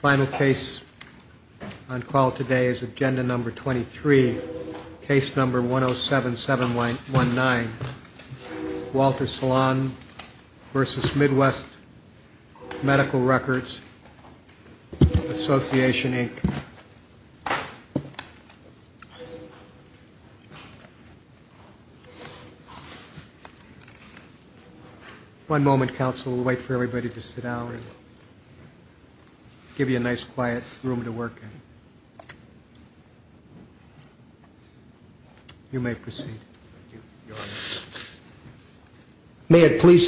Final case on call today is Agenda No. 23, Case No. 107719, Walter Salon v. Midwest Medical Records Association, Inc. May it please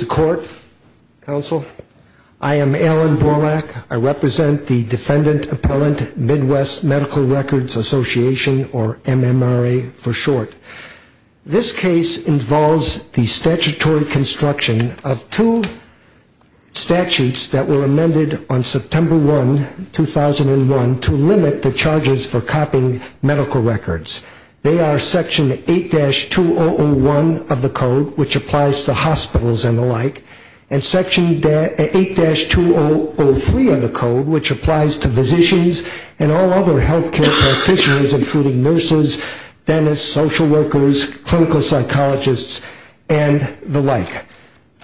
the Court, Counsel, I am Alan Borlak. I represent the Defendant Appellant Midwest Medical Records Association, or MMRA for short. This case involves the statutory construction of two statutes that were amended on September 1, 2001, to limit the charges for copying medical records. They are Section 8-2001 of the Code, which applies to hospitals and the like, and Section 8-2003 of the Code, which applies to physicians and all other medical records.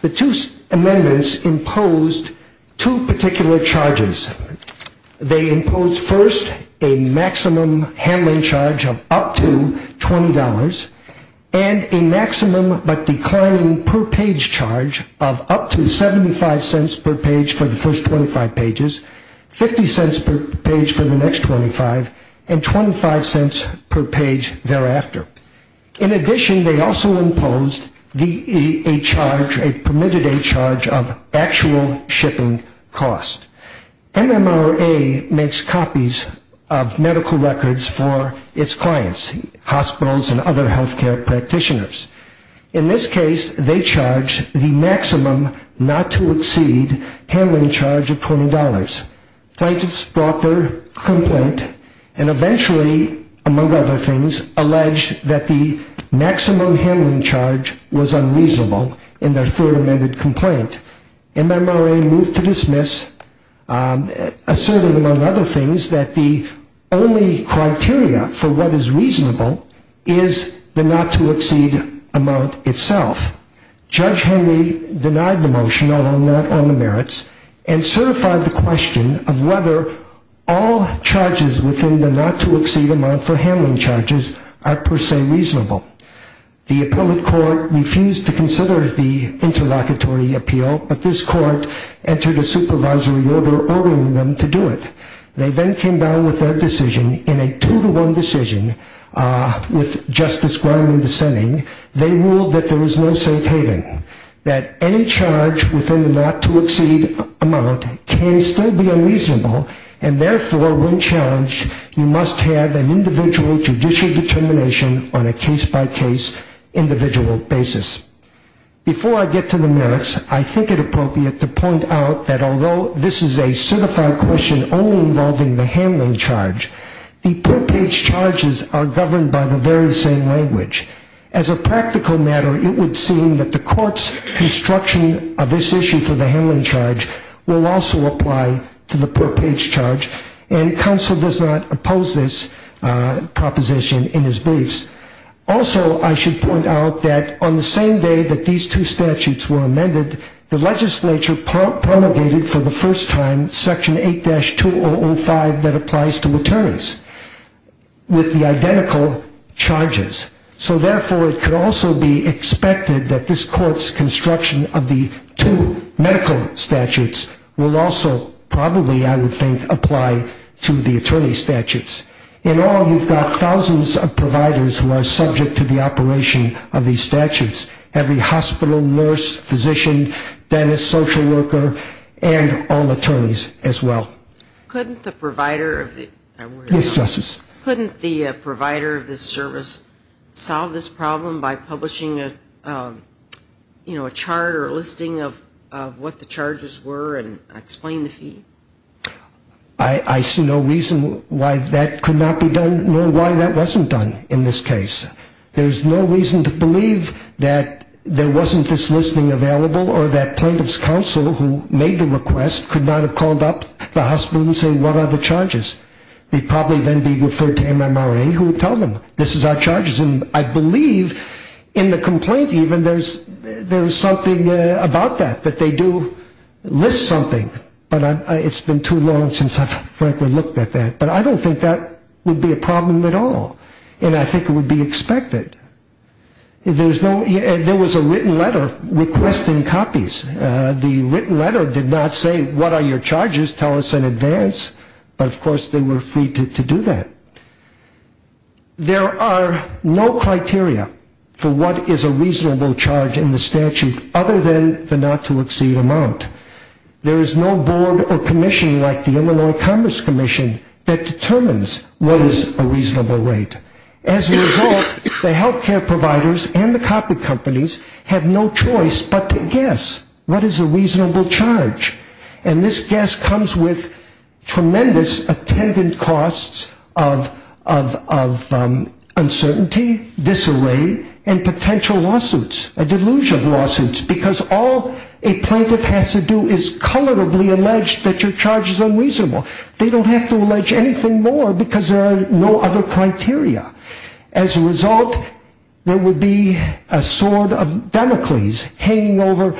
The two amendments imposed two particular charges. They imposed first a maximum handling charge of up to $20, and a maximum but declining per page charge of up to $0.75 per page for the first 25 pages, $0.50 per page for the next 25 pages, and $0.75 per page for the next 25 pages. In addition, they also imposed a permitted a charge of actual shipping cost. MMRA makes copies of medical records for its clients, hospitals and other health care practitioners. In this case, they charge the maximum not to exceed handling charge of $20. Plaintiffs brought their complaint and eventually, among other things, alleged that the maximum handling charge was unreasonable in their third amended complaint. MMRA moved to dismiss, asserting, among other things, that the only criteria for what is reasonable is the not to exceed amount itself. Judge Henry denied the motion, although not on the merits, and certified the question of whether all charges within the not to exceed amount for handling charges are per se reasonable. The appellate court refused to consider the interlocutory appeal, but this court entered a supervisory order ordering them to do it. They then came down with their decision in a two-to-one decision with Justice Griman dissenting. They ruled that there is no safe haven, that any charge within the not to exceed amount can still be unreasonable, and therefore, when challenged, you must have an individual judicial determination on a case-by-case, individual basis. Before I get to the merits, I think it appropriate to point out that although this is a certified question only involving the handling charge, the per page charges are governed by the very same language. As a practical matter, it would seem that the court's construction of this issue for the handling charge will also apply to the per page charge, and counsel does not oppose this proposition in his briefs. Also, I should point out that on the same day that these two statutes were amended, the legislature promulgated for the first time Section 8-2005 that applies to attorneys with the identical charges. So therefore, it could also be expected that this court's construction of the two medical statutes will also probably, I would think, apply to the attorney statutes. In all, you've got thousands of providers who are subject to the operation of these statutes. Every hospital, nurse, physician, dentist, social worker, and all attorneys as well. Couldn't the provider of the service solve this problem by publishing a chart or a listing of what the charges were and explain the fee? I see no reason why that could not be done, nor why that wasn't done in this case. There's no reason to believe that there wasn't this listing available or that plaintiff's counsel who made the request could not have called up the hospital and said, what are the charges? They'd probably then be referred to MMRA, who would tell them, this is our charges. And I believe in the complaint even, there's something about that, that they do list something. But it's been too long since I've frankly looked at that. But I don't think that would be a problem at all. And I think it would be expected. There was a written letter requesting copies. The written letter did not say, what are your charges? Tell us in advance. But of course they were free to do that. There are no criteria for what is a reasonable charge in the statute other than the not to exceed amount. There is no board or commission like the Illinois Commerce Commission that determines what is a reasonable rate. As a result, the health care providers and the copy companies have no choice but to guess what is a reasonable charge. And this guess comes with tremendous attendant costs of uncertainty, disarray, and potential lawsuits, delusional lawsuits, because all a plaintiff has to do is colorably allege that your charge is unreasonable. They don't have to allege anything more because there are no other criteria. As a result, there would be a sword of Damocles hanging over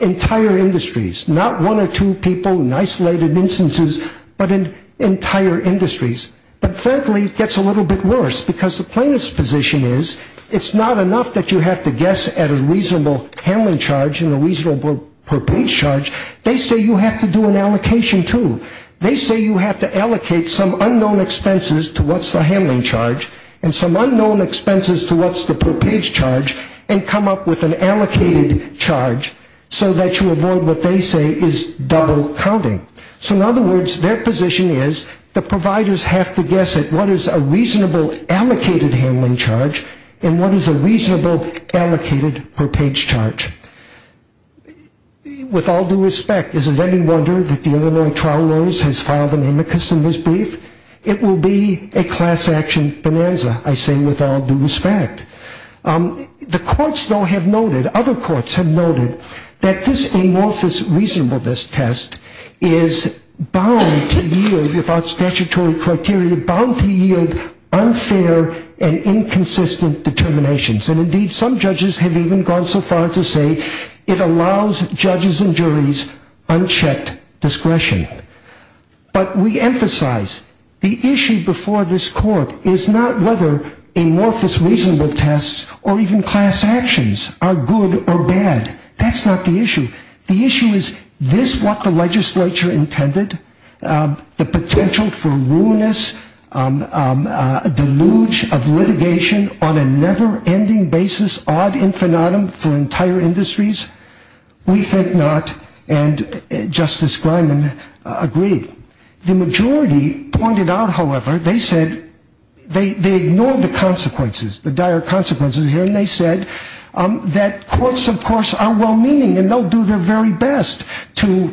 entire industries, not one or two people in isolated instances, but entire industries. But frankly, it gets a little bit worse because the plaintiff's position is it's not enough that you have to guess at a reasonable handling charge and a reasonable per page charge. They say you have to do an allocation too. They say you have to allocate some unknown expenses to what's the handling charge and some unknown expenses to what's the per page charge and come up with an allocated charge so that you avoid what they say is double counting. So in other words, their position is the providers have to guess at what is a reasonable allocated handling charge and what is a reasonable allocated per page charge. With all due respect, is it any wonder that the Illinois Trial Lawyers has filed an amicus in this brief? It will be a class action bonanza, I say with all due respect. The courts, though, have noted, other courts have noted that this amorphous reasonableness test is bound to yield, without statutory criteria, bound to yield unfair and inconsistent determinations. And indeed, some judges have even gone so far as to say it allows judges and juries unchecked discretion. But we emphasize the issue before this court is not whether amorphous reasonable tests or even class actions are good or bad. That's not the issue. The issue is, is this what the legislature intended? The potential for ruinous deluge of litigation on a never-ending basis, ad infinitum for entire industries? We think not. And Justice Grineman agreed. The majority pointed out, however, they said, they ignored the consequences, the dire consequences here. And they said that courts, of course, are well-meaning and they'll do their very best to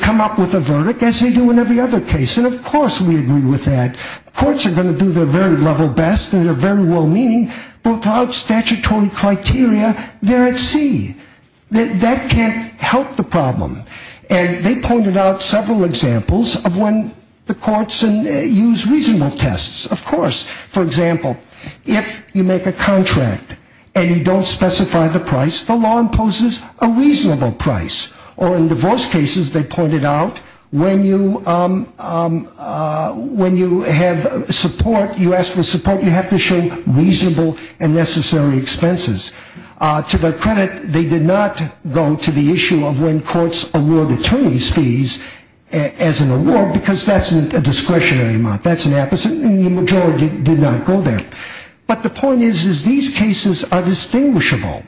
come up with a verdict as they do in every other case. And of course we agree with that. Courts are going to do their very level best and they're very well-meaning without statutory criteria. They're at sea. That can't help the problem. And they pointed out several examples of when the courts use reasonable tests. Of course, for example, if you make a contract and you don't specify the price, the law imposes a reasonable price. Or in divorce cases, they pointed out, when you have support, you ask for support, you have to show reasonable and necessary expenses. To their credit, they did not go to the issue of when courts award attorneys fees as an award because that's a discretionary amount. That's an apposite and the majority did not go there. But the point is, is these cases are distinguishable.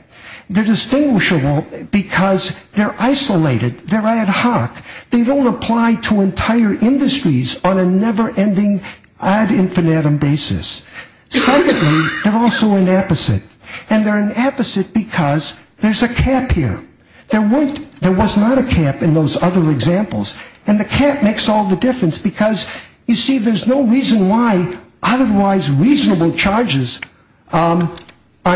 They're distinguishable because they're isolated. They're ad hoc. They don't apply to entire industries on a never-ending ad infinitum basis. Secondly, they're also an apposite. And they're an apposite because there's a cap here. There was not a cap in those other examples. And the cap makes all the difference because, you see, there's no reason why otherwise reasonable charges are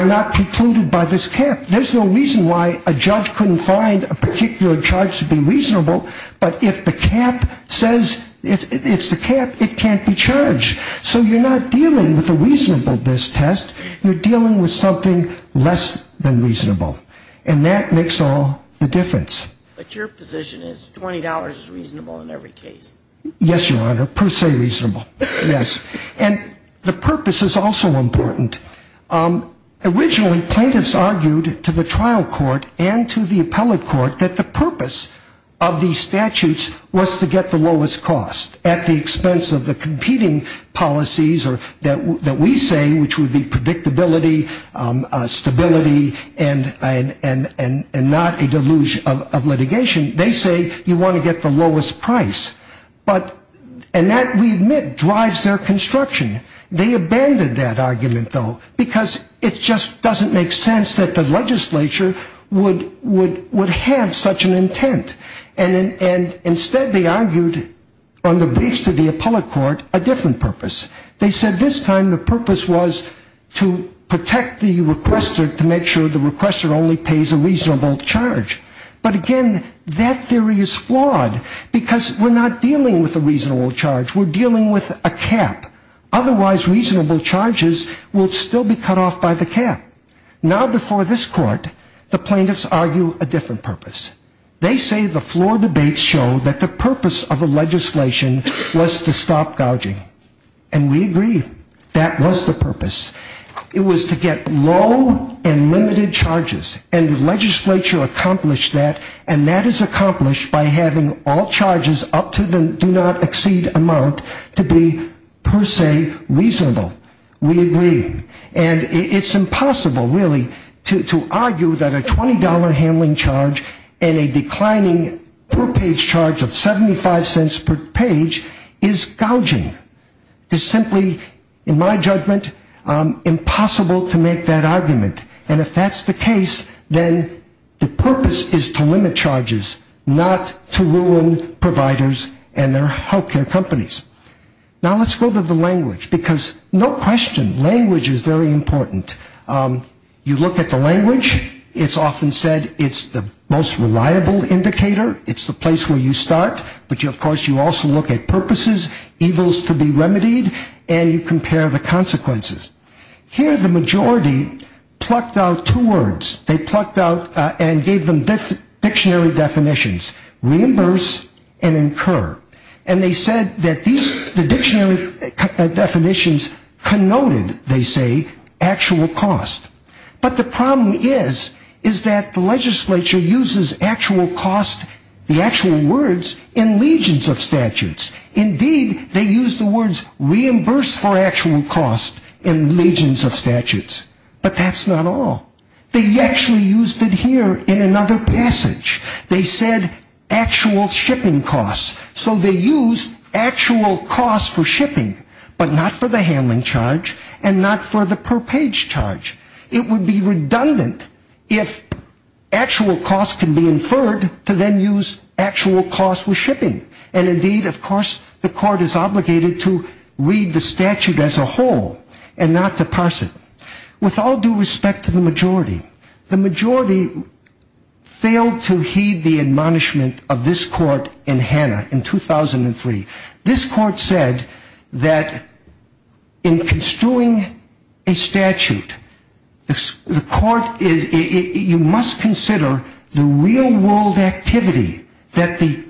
not precluded by this cap. There's no reason why a judge couldn't find a particular charge to be reasonable, but if the cap says it's the cap, it can't be charged. So you're not dealing with a reasonableness test. You're dealing with something less than reasonable. And that makes all the difference. But your position is $20 is reasonable in every case? Yes, Your Honor, per se reasonable. Yes. And the purpose is also important. Originally, plaintiffs argued to the trial court and to the appellate court that the purpose of these statutes was to get the lowest cost. At the expense of the competing policies that we say, which would be predictability, stability, and not a deluge of litigation. They say you want to get the lowest price. And that, we admit, drives their construction. They abandoned that argument, though, because it just doesn't make sense that the legislature would have such an intent. And instead they argued on the base of the appellate court a different purpose. They said this time the purpose was to protect the requester to make sure the requester only pays a reasonable charge. But, again, that theory is flawed because we're not dealing with a reasonable charge. We're dealing with a cap. Otherwise reasonable charges will still be cut off by the cap. Now before this court, the plaintiffs argue a different purpose. They say the flawed debates show that the purpose of the legislation was to stop gouging. And we agree. That was the purpose. It was to get low and limited charges. And the legislature accomplished that. And that is accomplished by having all charges up to the do not exceed amount to be per se reasonable. We agree. And it's impossible, really, to argue that a $20 handling charge and a declining per page charge of 75 cents per page is gouging. It's simply, in my judgment, impossible to make that argument. And if that's the case, then the purpose is to limit charges, not to ruin providers and their health care companies. Now let's go to the language. Because no question, language is very important. You look at the language. It's often said it's the most reliable indicator. It's the place where you start. But, of course, you also look at purposes, evils to be remedied, and you compare the consequences. Here the majority plucked out two words. They plucked out and gave them dictionary definitions, reimburse and incur. And they said that the dictionary definitions connoted, they say, actual cost. But the problem is, is that the legislature uses actual cost, the actual words, in legions of statutes. Indeed, they use the words reimburse for actual cost in legions of statutes. But that's not all. They actually used it here in another passage. They said actual shipping cost. So they used actual cost for shipping, but not for the handling charge and not for the per page charge. It would be redundant if actual cost can be inferred to then use actual cost for shipping. And indeed, of course, the court is obligated to read the statute as a whole and not to parse it. With all due respect to the majority, the majority failed to heed the admonishment of this court in Hannah in 2003. This court said that in construing a statute, the court is, you must consider the real world activity that the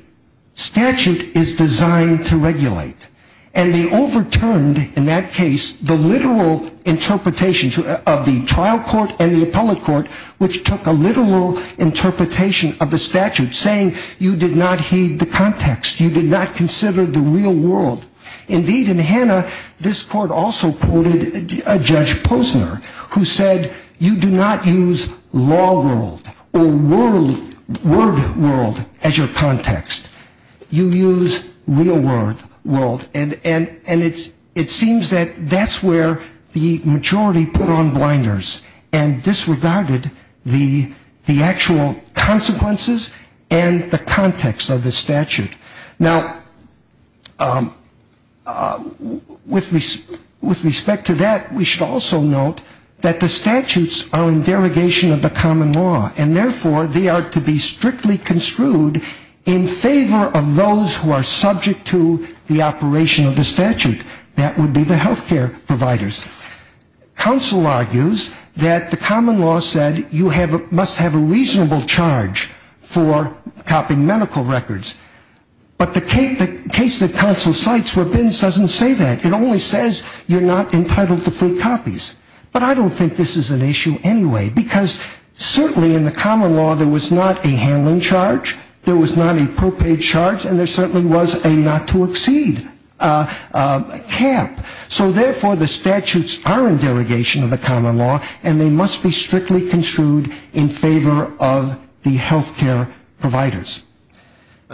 statute is designed to regulate. And they overturned, in that case, the literal interpretations of the trial court and the appellate court, which took a literal interpretation of the statute, saying you did not heed the context. You did not consider the real world. Indeed, in Hannah, this court also quoted a judge Posner, who said you do not use law world or word world as your context. You use real world. And it seems that that's where the majority put on blinders and disregarded the actual consequences and the context of the statute. Now, with respect to that, we should also note that the statutes are in derogation of the common law, and therefore they are to be strictly construed in favor of those who are subject to the operation of the statute. That would be the health care providers. Counsel argues that the common law said you must have a reasonable charge for copying medical records. But the case that counsel cites where Bins doesn't say that. It only says you're not entitled to free copies. But I don't think this is an issue anyway, because certainly in the common law there was not a handling charge, there was not a propaid charge, and there certainly was a not to exceed cap. So therefore, the statutes are in derogation of the common law, and they must be strictly construed in favor of the health care providers.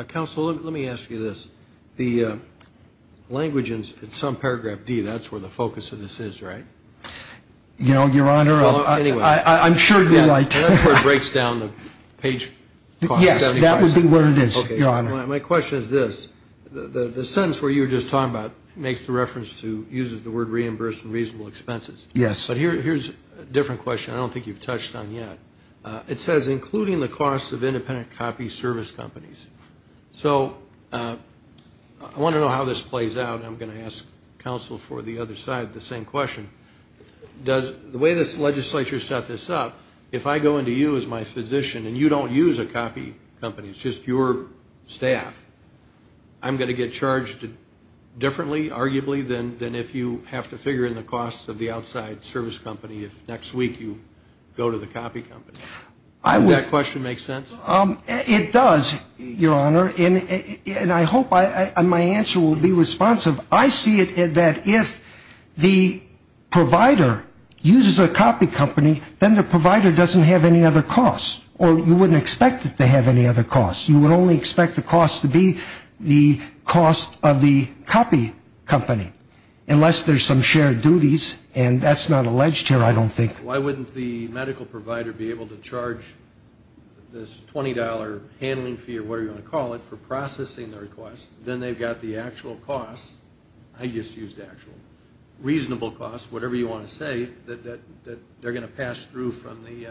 Counsel, let me ask you this. The language in some paragraph D, that's where the focus of this is, right? You know, Your Honor, I'm sure you're right. That's where it breaks down the page. My question is this. The sentence where you were just talking about makes the reference to, uses the word reimbursed and reasonable expenses. Yes. But here's a different question I don't think you've touched on yet. It says including the cost of independent copy service companies. So I want to know how this plays out, and I'm going to ask counsel for the other side the same question. The way this legislature set this up, if I go into you as my physician and you don't use a copy company, it's just your staff, I'm going to get charged differently, arguably, than if you have to figure in the costs of the outside service company if next week you go to the copy company. Does that question make sense? It does, Your Honor, and I hope my answer will be responsive. I see it that if the provider uses a copy company, then the provider doesn't have any other costs, or you wouldn't expect it to have any other costs. You would only expect the cost to be the cost of the copy company unless there's some shared duties, and that's not alleged here I don't think. Why wouldn't the medical provider be able to charge this $20 handling fee or whatever you want to call it for processing the request, then they've got the actual cost, I just used actual, reasonable cost, whatever you want to say, that they're going to pass through from the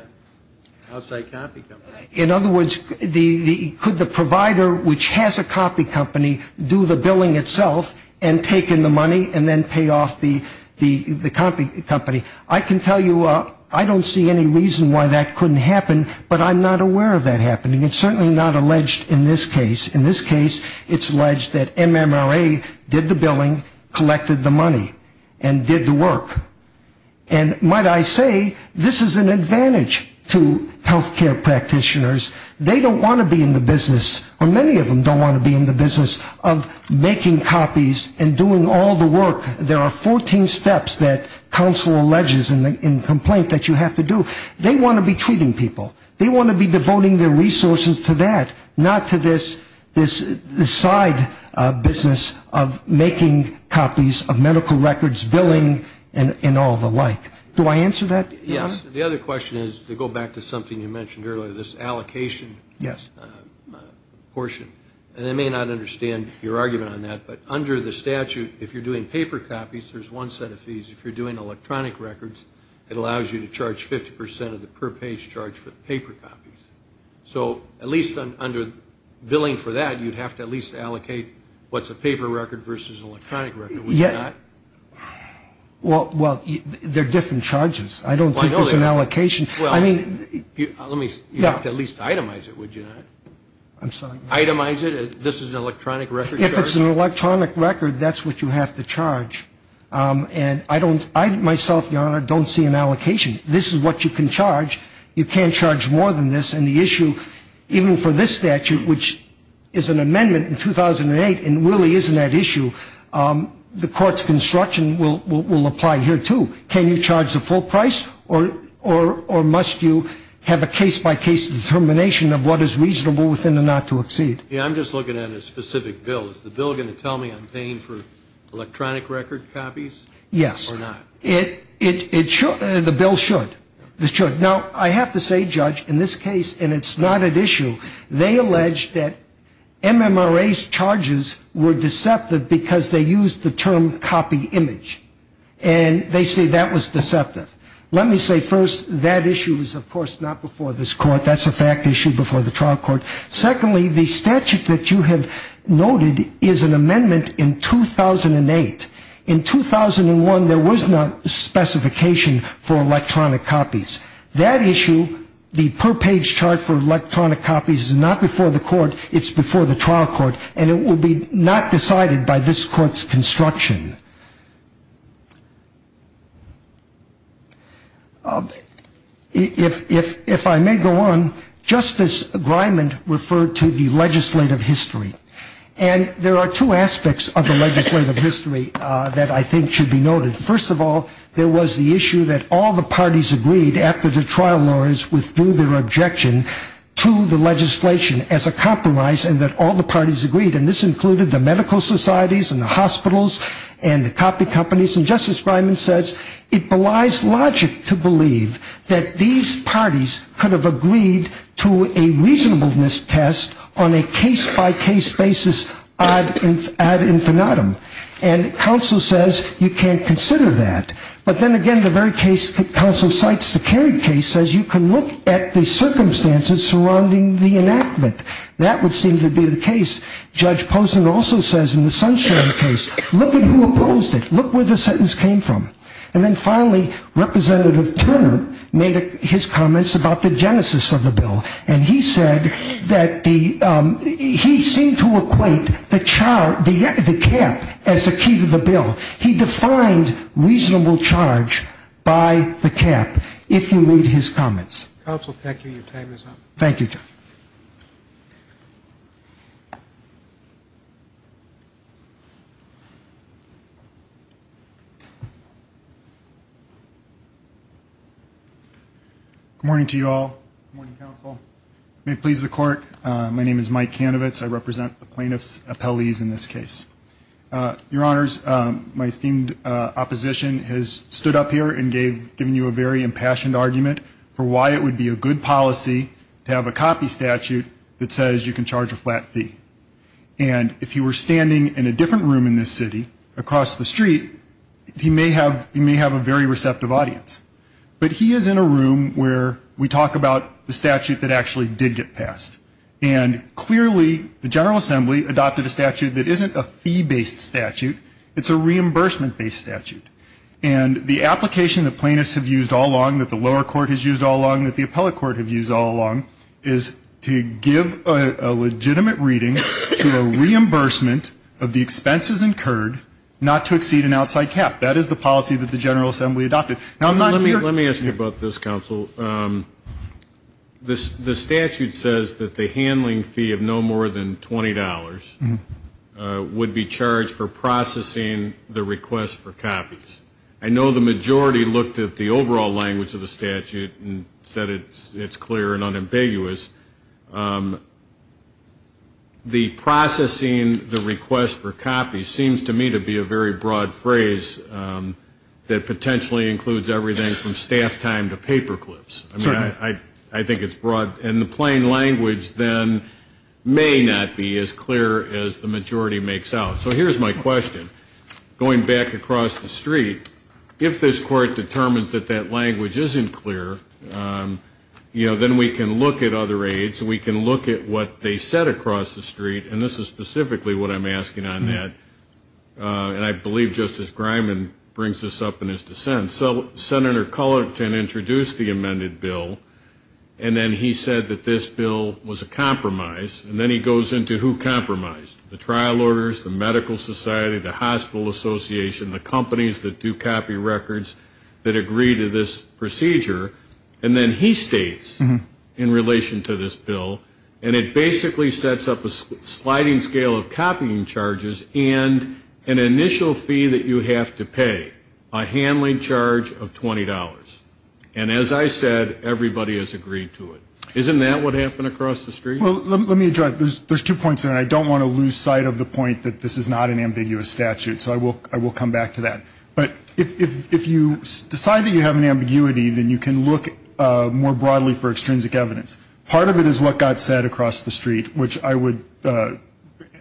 outside copy company. In other words, could the provider which has a copy company do the billing itself and take in the money and then pay off the copy company? I can tell you I don't see any reason why that couldn't happen, but I'm not aware of that happening. It's certainly not alleged in this case. It's alleged that MMRA did the billing, collected the money, and did the work. And might I say, this is an advantage to health care practitioners. They don't want to be in the business, or many of them don't want to be in the business of making copies and doing all the work. There are 14 steps that counsel alleges in the complaint that you have to do. They want to be treating people. They want to be devoting their resources to that, not to this side business of making copies of medical records, billing, and all the like. Do I answer that? Yes. The other question is to go back to something you mentioned earlier, this allocation portion. And I may not understand your argument on that, but under the statute, if you're doing paper copies, there's one set of fees. If you're doing electronic records, it allows you to charge 50 percent of the per page charge for the paper copies. So at least under billing for that, you'd have to at least allocate what's a paper record versus an electronic record, would you not? Well, they're different charges. I don't think there's an allocation. You'd have to at least itemize it, would you not? Itemize it? This is an electronic record charge? If it's an electronic record, that's what you have to charge. And I don't, I myself, Your Honor, don't see an allocation. This is what you can charge. You can't charge more than this. And the issue, even for this statute, which is an amendment in 2008 and really isn't that issue, the court's construction will apply here, too. Can you charge the full price or must you have a case-by-case determination of what is reasonable within the not to exceed? Yeah, I'm just looking at a specific bill. Is the bill going to tell me I'm paying for electronic record copies or not? Yes. It should. The bill should. It should. Now, I have to say, Judge, in this case, and it's not an issue, they allege that MMRA's charges were deceptive because they used the term copy image. And they say that was deceptive. Let me say, first, that issue is, of course, not before this court. That's a fact issue before the trial court. Secondly, the statute that you have noted is an amendment in 2008. In 2001, there was no specification for electronic copies. That issue, the per page chart for electronic copies, is not before the court. It's before the trial court. And it will be not decided by this court's construction. If I may go on, Justice Grimond referred to the legislative history. And there are two aspects of the legislative history that I think should be noted. First of all, there was the issue that all the parties agreed, after the trial lawyers withdrew their objection to the legislation as a compromise, and that all the parties agreed. And this included the medical societies and the hospitals, and the copy companies. And Justice Grimond says it belies logic to believe that these parties could have agreed to a reasonableness test on a case-by-case basis ad infinitum. And counsel says you can't consider that. But then again, the very case that counsel cites, the Kerry case, says you can look at the circumstances surrounding the enactment. That would seem to be the case. Judge Posen also says in the Sunstein case, look at who opposed it. Look where the sentence came from. And then finally, Representative Turner made his comments about the genesis of the bill. And he said that he seemed to equate the cap as the key to the bill. He defined reasonable charge by the cap, if you read his comments. Counsel, thank you. Your time is up. Thank you, Judge. Thank you. Good morning to you all. Good morning, counsel. May it please the Court, my name is Mike Kanovitz. I represent the plaintiff's appellees in this case. Your Honors, my esteemed opposition has stood up here and given you a very impassioned argument for why it would be a good policy to have a copy statute that says you can charge a flat fee. And if he were standing in a different room in this city, across the street, he may have a very receptive audience. But he is in a room where we talk about the statute that actually did get passed. And clearly the General Assembly adopted a statute that isn't a fee-based statute, it's a reimbursement-based statute. And the application that plaintiffs have used all along, that the lower court has used all along, that the appellate court has used all along, is to give a legitimate reading to a reimbursement of the expenses incurred, not to exceed an outside cap. That is the policy that the General Assembly adopted. Let me ask you about this, counsel. The statute says that the handling fee of no more than $20 would be charged for processing the request for copies. I know the majority looked at the overall language of the statute and said it's clear and unambiguous. The processing the request for copies seems to me to be a very broad phrase that potentially includes everything from staff time to paper clips. I think it's broad. And the plain language then may not be as clear as the majority makes out. So here's my question. Going back across the street, if this court determines that that language isn't clear, then we can look at other aides, we can look at what they said across the street, and this is specifically what I'm asking on that, and I believe Justice Griman brings this up in his dissent. So Senator Cullerton introduced the amended bill, and then he said that this bill was a compromise, and then he goes into who compromised, the trial orders, the medical society, the hospital association, the companies that do copy records that agree to this procedure, and then he states in relation to this bill, and it basically sets up a sliding scale of copying charges and an initial fee that you have to pay, a handling charge of $20. And as I said, everybody has agreed to it. Isn't that what happened across the street? Well, let me address, there's two points there, and I don't want to lose sight of the point that this is not an ambiguous statute, so I will come back to that. But if you decide that you have an ambiguity, then you can look more broadly for extrinsic evidence. Part of it is what got said across the street, which I would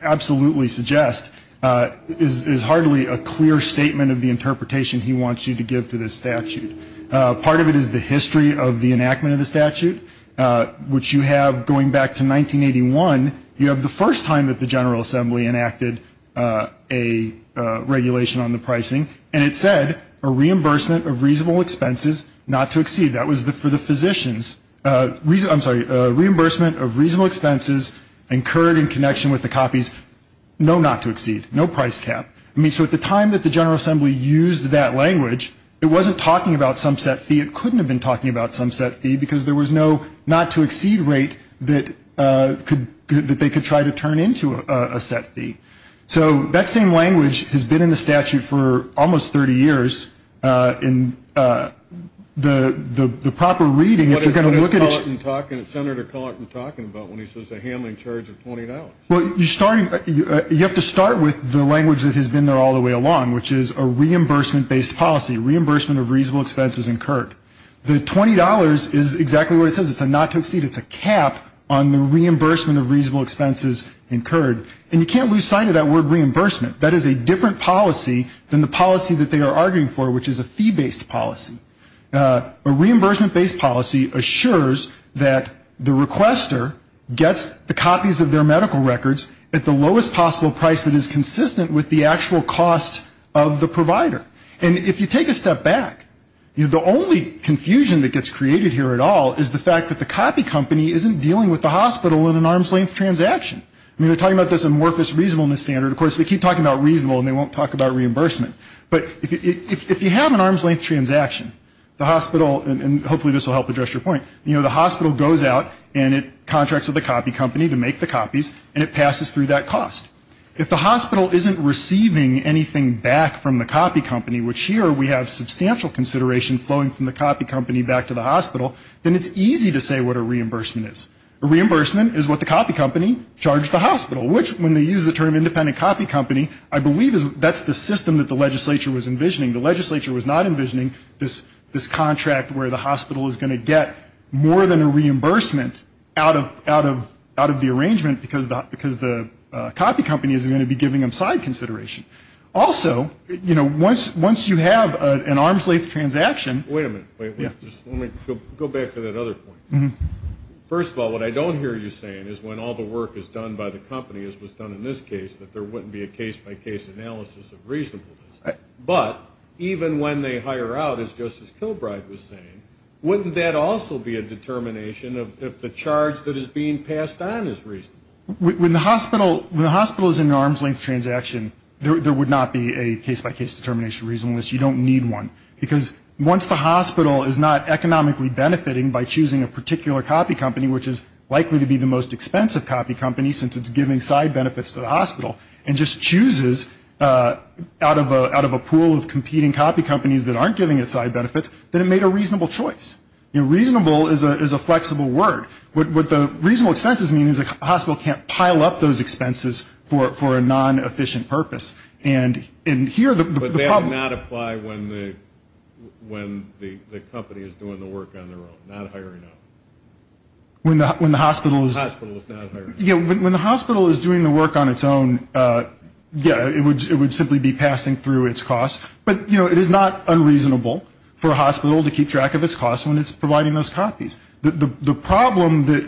absolutely suggest, is hardly a clear statement of the interpretation he wants you to give to this statute. Part of it is the history of the enactment of the statute, which you have going back to 1981. You have the first time that the General Assembly enacted a regulation on the pricing, and it said a reimbursement of reasonable expenses not to exceed. That was for the physicians. I'm sorry, a reimbursement of reasonable expenses incurred in connection with the copies, no not to exceed, no price cap. I mean, so at the time that the General Assembly used that language, it wasn't talking about some set fee. It couldn't have been talking about some set fee because there was no not to exceed rate that they could try to turn into a set fee. So that same language has been in the statute for almost 30 years, and the proper reading, if you're going to look at it. What is Senator Collarton talking about when he says a handling charge of $20? Well, you have to start with the language that has been there all the way along, which is a reimbursement-based policy, reimbursement of reasonable expenses incurred. The $20 is exactly what it says. It's a not to exceed. It's a cap on the reimbursement of reasonable expenses incurred. And you can't lose sight of that word reimbursement. That is a different policy than the policy that they are arguing for, which is a fee-based policy. A reimbursement-based policy assures that the requester gets the copies of their medical records at the lowest possible price that is consistent with the actual cost of the provider. And if you take a step back, the only confusion that gets created here at all is the fact that the copy company isn't dealing with the hospital in an arm's-length transaction. I mean, they're talking about this amorphous reasonableness standard. Of course, they keep talking about reasonable, and they won't talk about reimbursement. But if you have an arm's-length transaction, the hospital, and hopefully this will help address your point, you know, the hospital goes out and it contracts with the copy company to make the copies, and it passes through that cost. If the hospital isn't receiving anything back from the copy company, which here we have substantial consideration flowing from the copy company back to the hospital, then it's easy to say what a reimbursement is. A reimbursement is what the copy company charged the hospital, which when they use the term independent copy company, I believe that's the system that the legislature was envisioning. The legislature was not envisioning this contract where the hospital is going to get more than a reimbursement out of the arrangement because the copy company isn't going to be giving them side consideration. Also, you know, once you have an arm's-length transaction. Wait a minute. Let me go back to that other point. First of all, what I don't hear you saying is when all the work is done by the company, as was done in this case, that there wouldn't be a case-by-case analysis of reasonableness. But even when they hire out, as Justice Kilbride was saying, wouldn't that also be a determination if the charge that is being passed on is reasonable? When the hospital is in an arm's-length transaction, there would not be a case-by-case determination reasonableness. You don't need one. Because once the hospital is not economically benefiting by choosing a particular copy company, which is likely to be the most expensive copy company since it's giving side benefits to the hospital, and just chooses out of a pool of competing copy companies that aren't giving it side benefits, then it made a reasonable choice. You know, reasonable is a flexible word. What the reasonable expenses mean is the hospital can't pile up those expenses for a non-efficient purpose. And here the problem – But they do not apply when the company is doing the work on their own, not hiring them. When the hospital is – The hospital is not hiring them. When the hospital is doing the work on its own, yeah, it would simply be passing through its costs. But, you know, it is not unreasonable for a hospital to keep track of its costs when it's providing those copies. The problem that,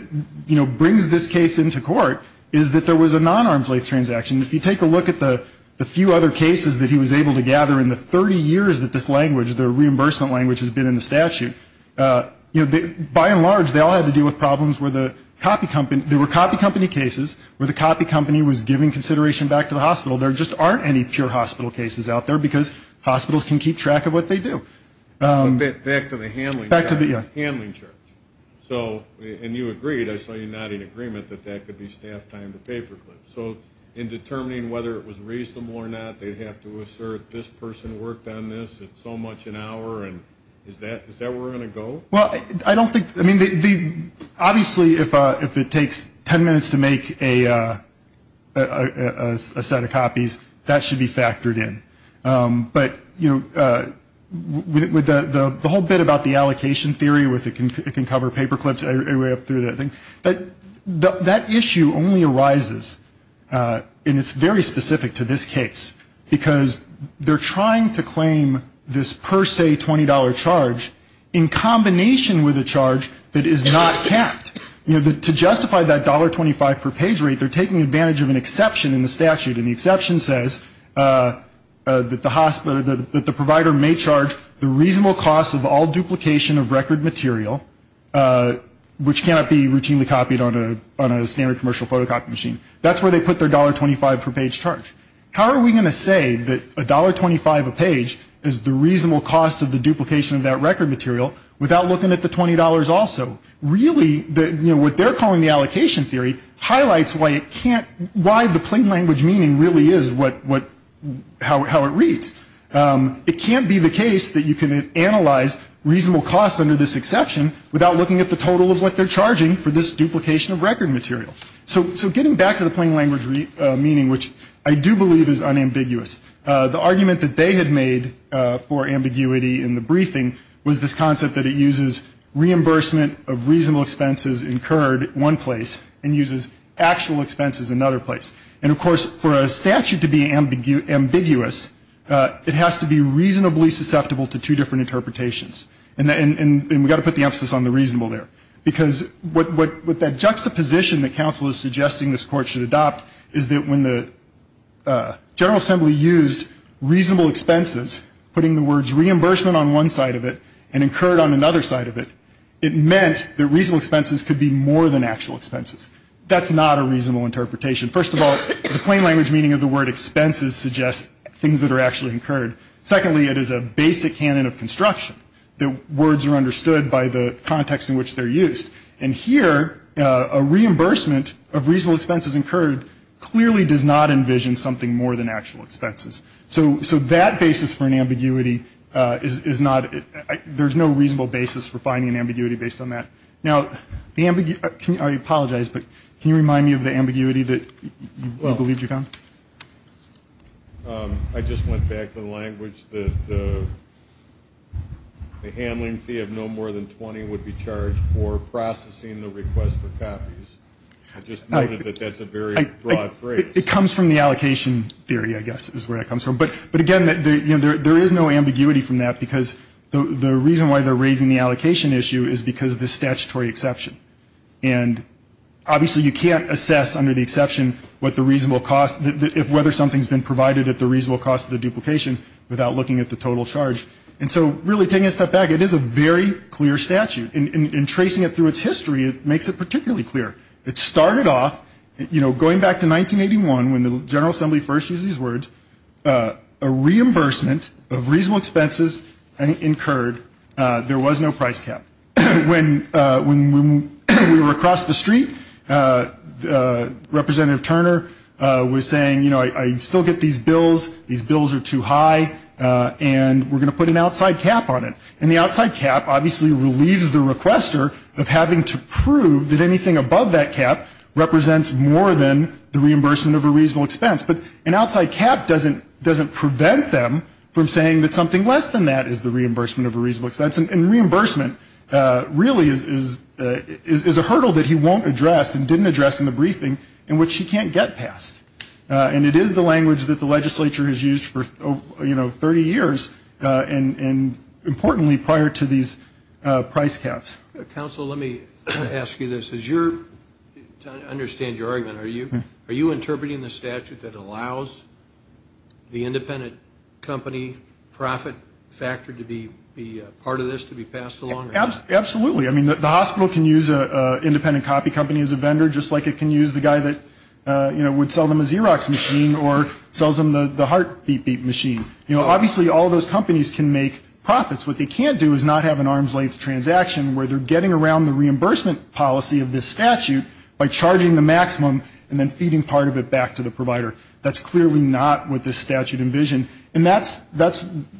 you know, brings this case into court is that there was a non-arm's-length transaction. If you take a look at the few other cases that he was able to gather in the 30 years that this language, the reimbursement language, has been in the statute, you know, by and large, they all had to deal with problems where the copy company – there were copy company cases where the copy company was giving consideration back to the hospital. There just aren't any pure hospital cases out there because hospitals can keep track of what they do. Back to the handling charge. Back to the – yeah. Handling charge. So – and you agreed. I saw you nodding agreement that that could be staff time to paperclip. So in determining whether it was reasonable or not, they'd have to assert this person worked on this at so much an hour, and is that where we're going to go? Well, I don't think – I mean, the – obviously, if it takes 10 minutes to make a set of copies, that should be factored in. But, you know, with the whole bit about the allocation theory with it can cover paperclips, I read through that thing, but that issue only arises, and it's very specific to this case, because they're trying to claim this per se $20 charge in combination with a charge that is not capped. You know, to justify that $1.25 per page rate, they're taking advantage of an exception in the statute, and the exception says that the provider may charge the reasonable cost of all duplication of record material, which cannot be routinely copied on a standard commercial photocopy machine. That's where they put their $1.25 per page charge. How are we going to say that $1.25 a page is the reasonable cost of the duplication of that record material without looking at the $20 also? Really, what they're calling the allocation theory highlights why it can't – why the plain language meaning really is what – how it reads. It can't be the case that you can analyze reasonable costs under this exception without looking at the total of what they're charging for this duplication of record material. So getting back to the plain language meaning, which I do believe is unambiguous, the argument that they had made for ambiguity in the briefing was this concept that it uses reimbursement of reasonable expenses incurred in one place and uses actual expenses in another place. And, of course, for a statute to be ambiguous, it has to be reasonably susceptible to two different interpretations. And we've got to put the emphasis on the reasonable there, because what that juxtaposition that counsel is suggesting this Court should adopt is that when the General Assembly used reasonable expenses, putting the words reimbursement on one side of it and incurred on another side of it, it meant that reasonable expenses could be more than actual expenses. That's not a reasonable interpretation. First of all, the plain language meaning of the word expenses suggests things that are actually incurred. Secondly, it is a basic canon of construction that words are understood by the context in which they're used. And here, a reimbursement of reasonable expenses incurred clearly does not envision something more than actual expenses. So that basis for an ambiguity is not – there's no reasonable basis for finding an ambiguity based on that. Now, the – I apologize, but can you remind me of the ambiguity that you believed you found? I just went back to the language that the handling fee of no more than 20 would be charged for processing the request for copies. I just noted that that's a very broad phrase. It comes from the allocation theory, I guess, is where it comes from. But, again, there is no ambiguity from that, because the reason why they're raising the allocation issue is because of the statutory exception. And, obviously, you can't assess under the exception what the reasonable cost – whether something's been provided at the reasonable cost of the duplication without looking at the total charge. And so, really, taking a step back, it is a very clear statute. In tracing it through its history, it makes it particularly clear. It started off, you know, going back to 1981 when the General Assembly first used these words, a reimbursement of reasonable expenses incurred. There was no price cap. When we were across the street, Representative Turner was saying, you know, I still get these bills, these bills are too high, and we're going to put an outside cap on it. And the outside cap, obviously, relieves the requester of having to prove that anything above that cap represents more than the reimbursement of a reasonable expense. But an outside cap doesn't prevent them from saying that something less than that is the reimbursement of a reasonable expense. And reimbursement really is a hurdle that he won't address and didn't address in the briefing in which he can't get past. And it is the language that the legislature has used for, you know, 30 years, and importantly, prior to these price caps. Counsel, let me ask you this. To understand your argument, are you interpreting the statute that allows the independent company profit factor to be part of this, to be passed along? Absolutely. I mean, the hospital can use an independent copy company as a vendor, just like it can use the guy that, you know, would sell them a Xerox machine or sells them the heartbeat machine. You know, obviously, all those companies can make profits. What they can't do is not have an arms length transaction where they're getting around the reimbursement policy of this statute by charging the maximum and then feeding part of it back to the provider. That's clearly not what this statute envisioned. And that's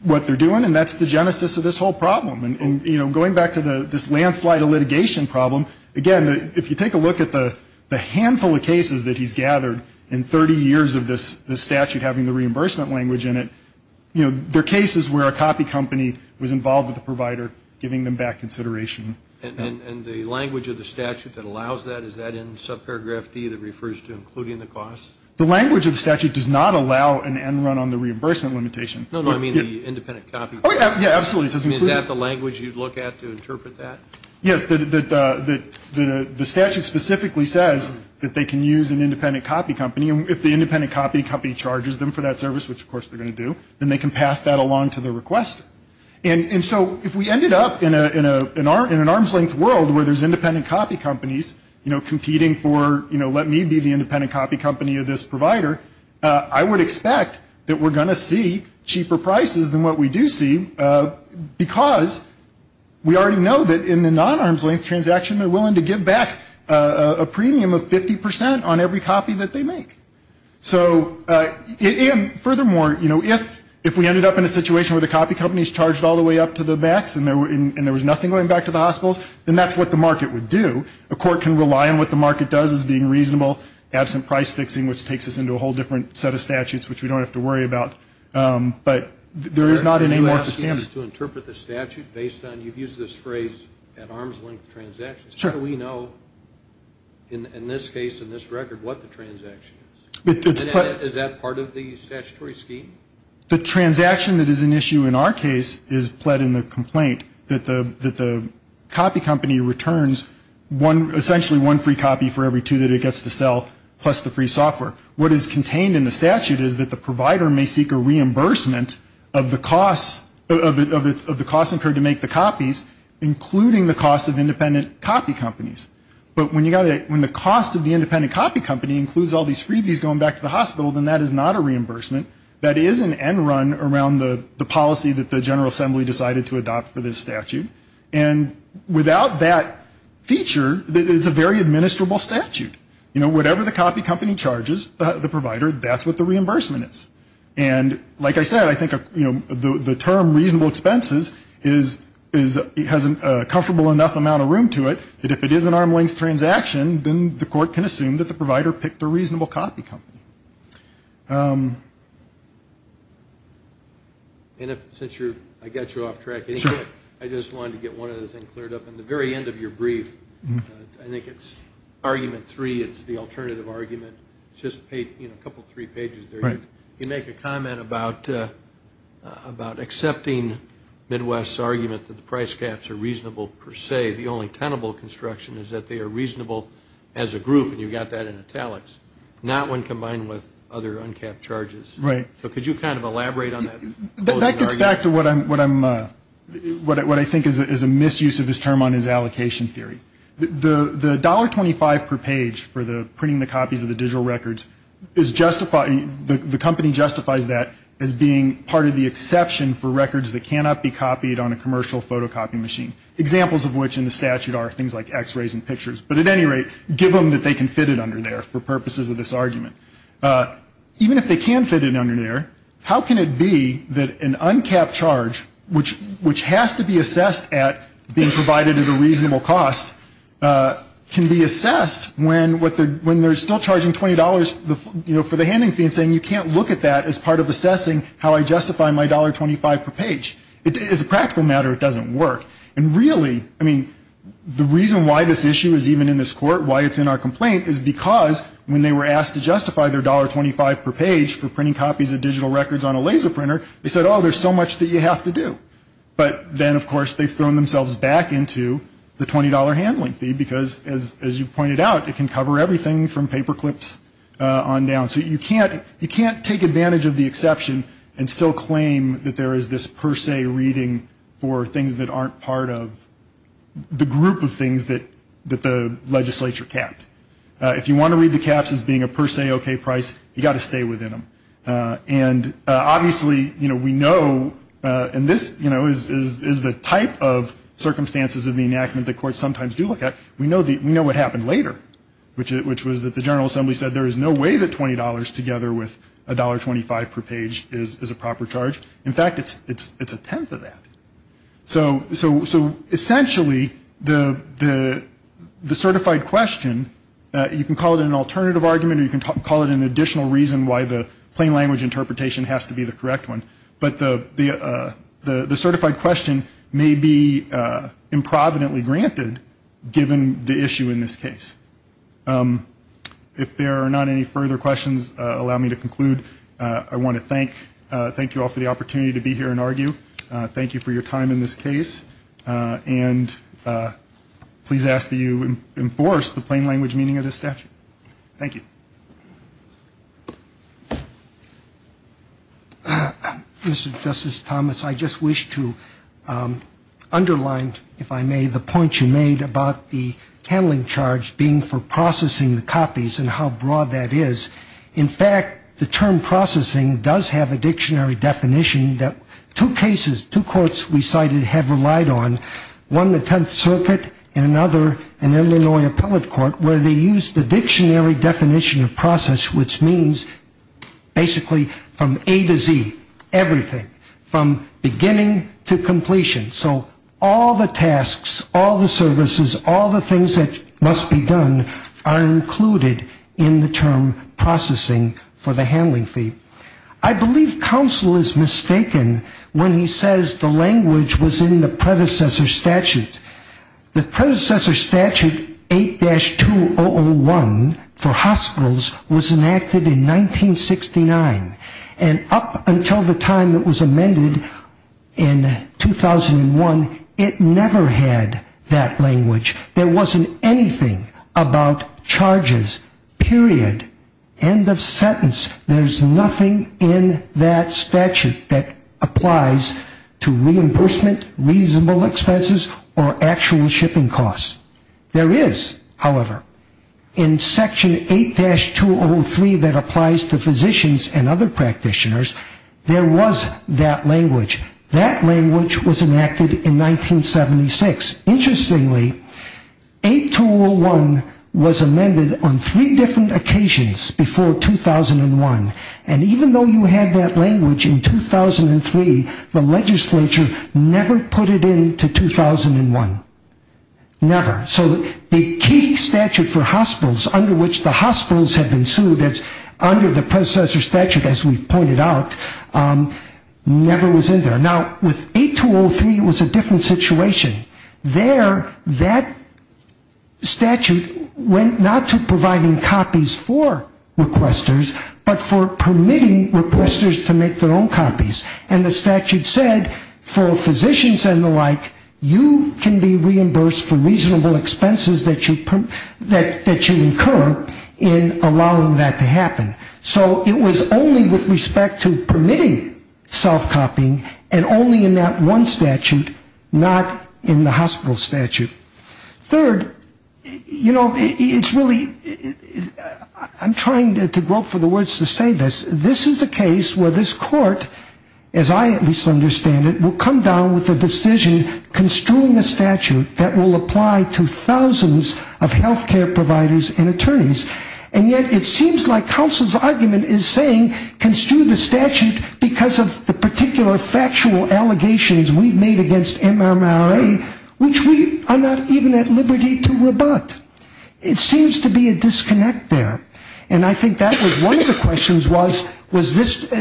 what they're doing, and that's the genesis of this whole problem. And, you know, going back to this landslide of litigation problem, again, if you take a look at the handful of cases that he's gathered in 30 years of this statute having the reimbursement language in it, you know, they're cases where a copy company was involved with the provider, giving them back consideration. And the language of the statute that allows that, is that in subparagraph D that refers to including the costs? The language of the statute does not allow an end run on the reimbursement limitation. No, no, I mean the independent copy company. Oh, yeah, absolutely. I mean, is that the language you'd look at to interpret that? Yes. The statute specifically says that they can use an independent copy company. If the independent copy company charges them for that service, which, of course, they're going to do, then they can pass that along to the requester. And so if we ended up in an arms length world where there's independent copy companies, you know, I would expect that we're going to see cheaper prices than what we do see, because we already know that in the non-arms length transaction, they're willing to give back a premium of 50% on every copy that they make. So, and furthermore, you know, if we ended up in a situation where the copy company's charged all the way up to the max and there was nothing going back to the hospitals, then that's what the market would do. A court can rely on what the market does as being reasonable, absent price fixing, which takes us into a whole different set of statutes, which we don't have to worry about. But there is not an amorphous standard. Can you ask us to interpret the statute based on, you've used this phrase, at arms length transactions. Sure. How do we know, in this case, in this record, what the transaction is? Is that part of the statutory scheme? The transaction that is an issue in our case is pled in the complaint that the copy company returns essentially one free copy for every two that it gets to sell, plus the free software. What is contained in the statute is that the provider may seek a reimbursement of the costs incurred to make the copies, including the cost of independent copy companies. But when the cost of the independent copy company includes all these freebies going back to the hospital, then that is not a reimbursement. That is an end run around the policy that the General Assembly decided to adopt for this statute. And without that feature, it is a very administrable statute. You know, whatever the copy company charges the provider, that's what the reimbursement is. And like I said, I think the term reasonable expenses has a comfortable enough amount of room to it that if it is an arm length transaction, then the court can assume that the provider picked a reasonable copy company. Since I got you off track, I just wanted to get one other thing cleared up. At the very end of your brief, I think it's argument three, it's the alternative argument. It's just a couple of three pages there. You make a comment about accepting Midwest's argument that the price caps are reasonable per se. The only tenable construction is that they are reasonable as a group, and you've got that in italics. Not when combined with other uncapped charges. So could you kind of elaborate on that? That gets back to what I think is a misuse of this term on his allocation theory. The $1.25 per page for printing the copies of the digital records, the company justifies that as being part of the exception for records that cannot be copied on a commercial photocopy machine. Examples of which in the statute are things like x-rays and pictures. But at any rate, give them that they can fit it under there for purposes of this argument. Even if they can fit it under there, how can it be that an uncapped charge, which has to be assessed at being provided at a reasonable cost, can be assessed when they're still charging $20 for the handing fee and saying, you can't look at that as part of assessing how I justify my $1.25 per page. As a practical matter, it doesn't work. And really, I mean, the reason why this issue is even in this court, why it's in our complaint is because when they were asked to justify their $1.25 per page for printing copies of digital records on a laser printer, they said, oh, there's so much that you have to do. But then, of course, they've thrown themselves back into the $20 handling fee because, as you pointed out, it can cover everything from paper clips on down. So you can't take advantage of the exception and still claim that there is this per se reading for things that aren't part of the group of things that the legislature capped. If you want to read the caps as being a per se okay price, you've got to stay within them. And obviously, you know, we know, and this, you know, is the type of circumstances of the enactment the courts sometimes do look at, we know what happened later, which was that the General Assembly said there is no way that $20 together with $1.25 per page is a proper charge. In fact, it's a tenth of that. So essentially, the certified question, you can call it an alternative argument or you can call it an additional reason why the plain language interpretation has to be the correct one, but the certified question may be improvidently granted given the issue in this case. If there are not any further questions, allow me to conclude. I want to thank you all for the opportunity to be here and argue. Thank you for your time in this case. And please ask that you enforce the plain language meaning of this statute. Thank you. Mr. Justice Thomas, I just wish to underline, if I may, the point you made about the handling charge being for processing the copies and how broad that is. In fact, the term processing does have a dictionary definition that two cases, two courts we cited have relied on, one the Tenth Circuit and another an Illinois Appellate Court, where they use the dictionary definition of process, which means basically from A to Z, everything, from beginning to completion. So all the tasks, all the services, all the things that must be done are included in the term processing for the handling fee. I believe counsel is mistaken when he says the language was in the predecessor statute. The predecessor statute 8-2001 for hospitals was enacted in 1969. And up until the time it was amended in 2001, it never had that language. There wasn't anything about charges, period, end of sentence. There's nothing in that statute that applies to reimbursement, reasonable expenses or actual shipping costs. There is, however, in section 8-203 that applies to physicians and other practitioners, there was that language. That language was enacted in 1976. Interestingly, 8-201 was amended on three different occasions before 2001. And even though you had that language in 2003, the legislature never put it into 2001. Never. So the key statute for hospitals under which the hospitals have been sued under the predecessor statute, as we pointed out, never was in there. Now, with 8-203, it was a different situation. There, that statute went not to providing copies for requesters, but for permitting requesters to make their own copies. And the statute said for physicians and the like, you can be reimbursed for reasonable expenses that you incur in allowing that to happen. So it was only with respect to permitting self-copying and only in that one statute, not in the hospital statute. Third, you know, it's really, I'm trying to grope for the words to say this. This is a case where this court, as I at least understand it, will come down with a decision construing a statute that will apply to thousands of health care providers and attorneys. And yet it seems like counsel's argument is saying, construe the statute because of the particular factual allegations we've made against MMRA, which we are not even at liberty to rebut. It seems to be a disconnect there. And I think that was one of the questions was, was this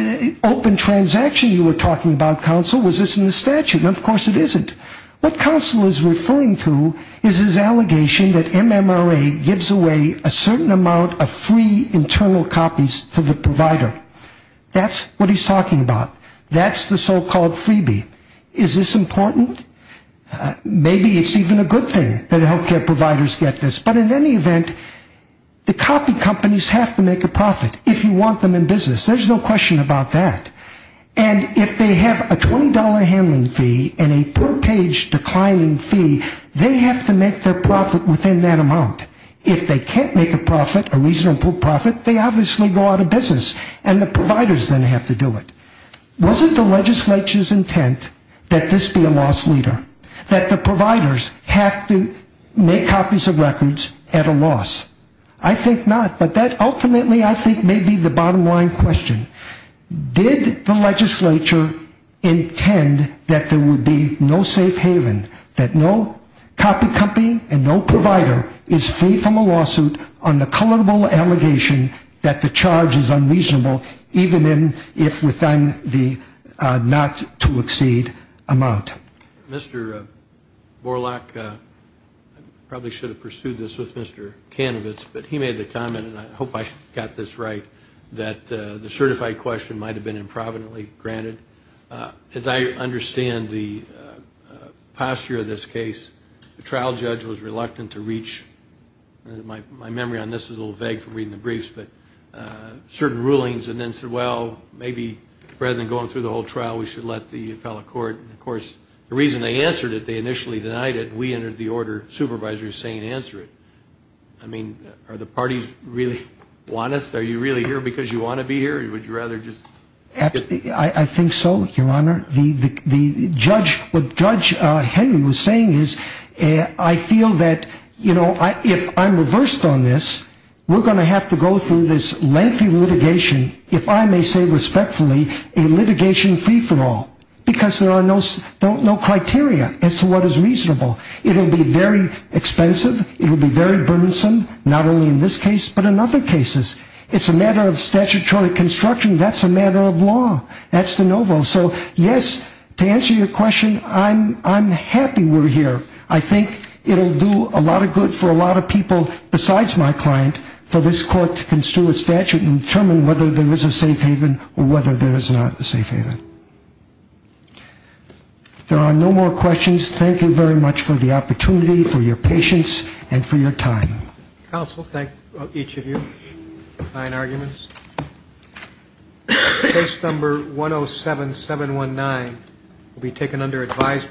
open transaction you were talking about, counsel? Was this in the statute? And of course it isn't. What counsel is referring to is his allegation that MMRA gives away a certain amount of free internal copies to the provider. That's what he's talking about. That's the so-called freebie. Is this important? Maybe it's even a good thing that health care providers get this. But in any event, the copy companies have to make a profit if you want them in business. There's no question about that. And if they have a $20 handling fee and a per page declining fee, they have to make their profit within that amount. If they can't make a profit, a reasonable profit, they obviously go out of business and the providers then have to do it. Wasn't the legislature's intent that this be a loss leader? That the providers have to make copies of records at a loss? I think not. But that ultimately I think may be the bottom line question. Did the legislature intend that there would be no safe haven, that no copy company and no provider is free from a lawsuit on the culpable allegation that the charge is unreasonable, even if within the not to exceed amount? Mr. Borlaug, I probably should have pursued this with Mr. Kanovitz, but he made the comment, and I hope I got this right, that the certified question might have been improvidently granted. As I understand the posture of this case, the trial judge was reluctant to reach, my memory on this is a little vague from reading the briefs, but certain rulings and then said, well, maybe rather than going through the whole trial, we should let the appellate court. And, of course, the reason they answered it, they initially denied it, and we entered the order, supervisors saying answer it. I mean, are the parties really honest? Are you really here because you want to be here, or would you rather just? I think so, Your Honor. The judge, what Judge Henry was saying is I feel that, you know, if I'm reversed on this, we're going to have to go through this lengthy litigation, if I may say respectfully, a litigation free for all, because there are no criteria as to what is reasonable. It will be very expensive. It will be very burdensome, not only in this case but in other cases. It's a matter of statutory construction. That's a matter of law. That's de novo. So, yes, to answer your question, I'm happy we're here. I think it will do a lot of good for a lot of people besides my client for this court to construe a statute and determine whether there is a safe haven or whether there is not a safe haven. If there are no more questions, thank you very much for the opportunity, for your patience, and for your time. Counsel, thank each of you. Fine arguments. Case number 107719 will be taken under advisement.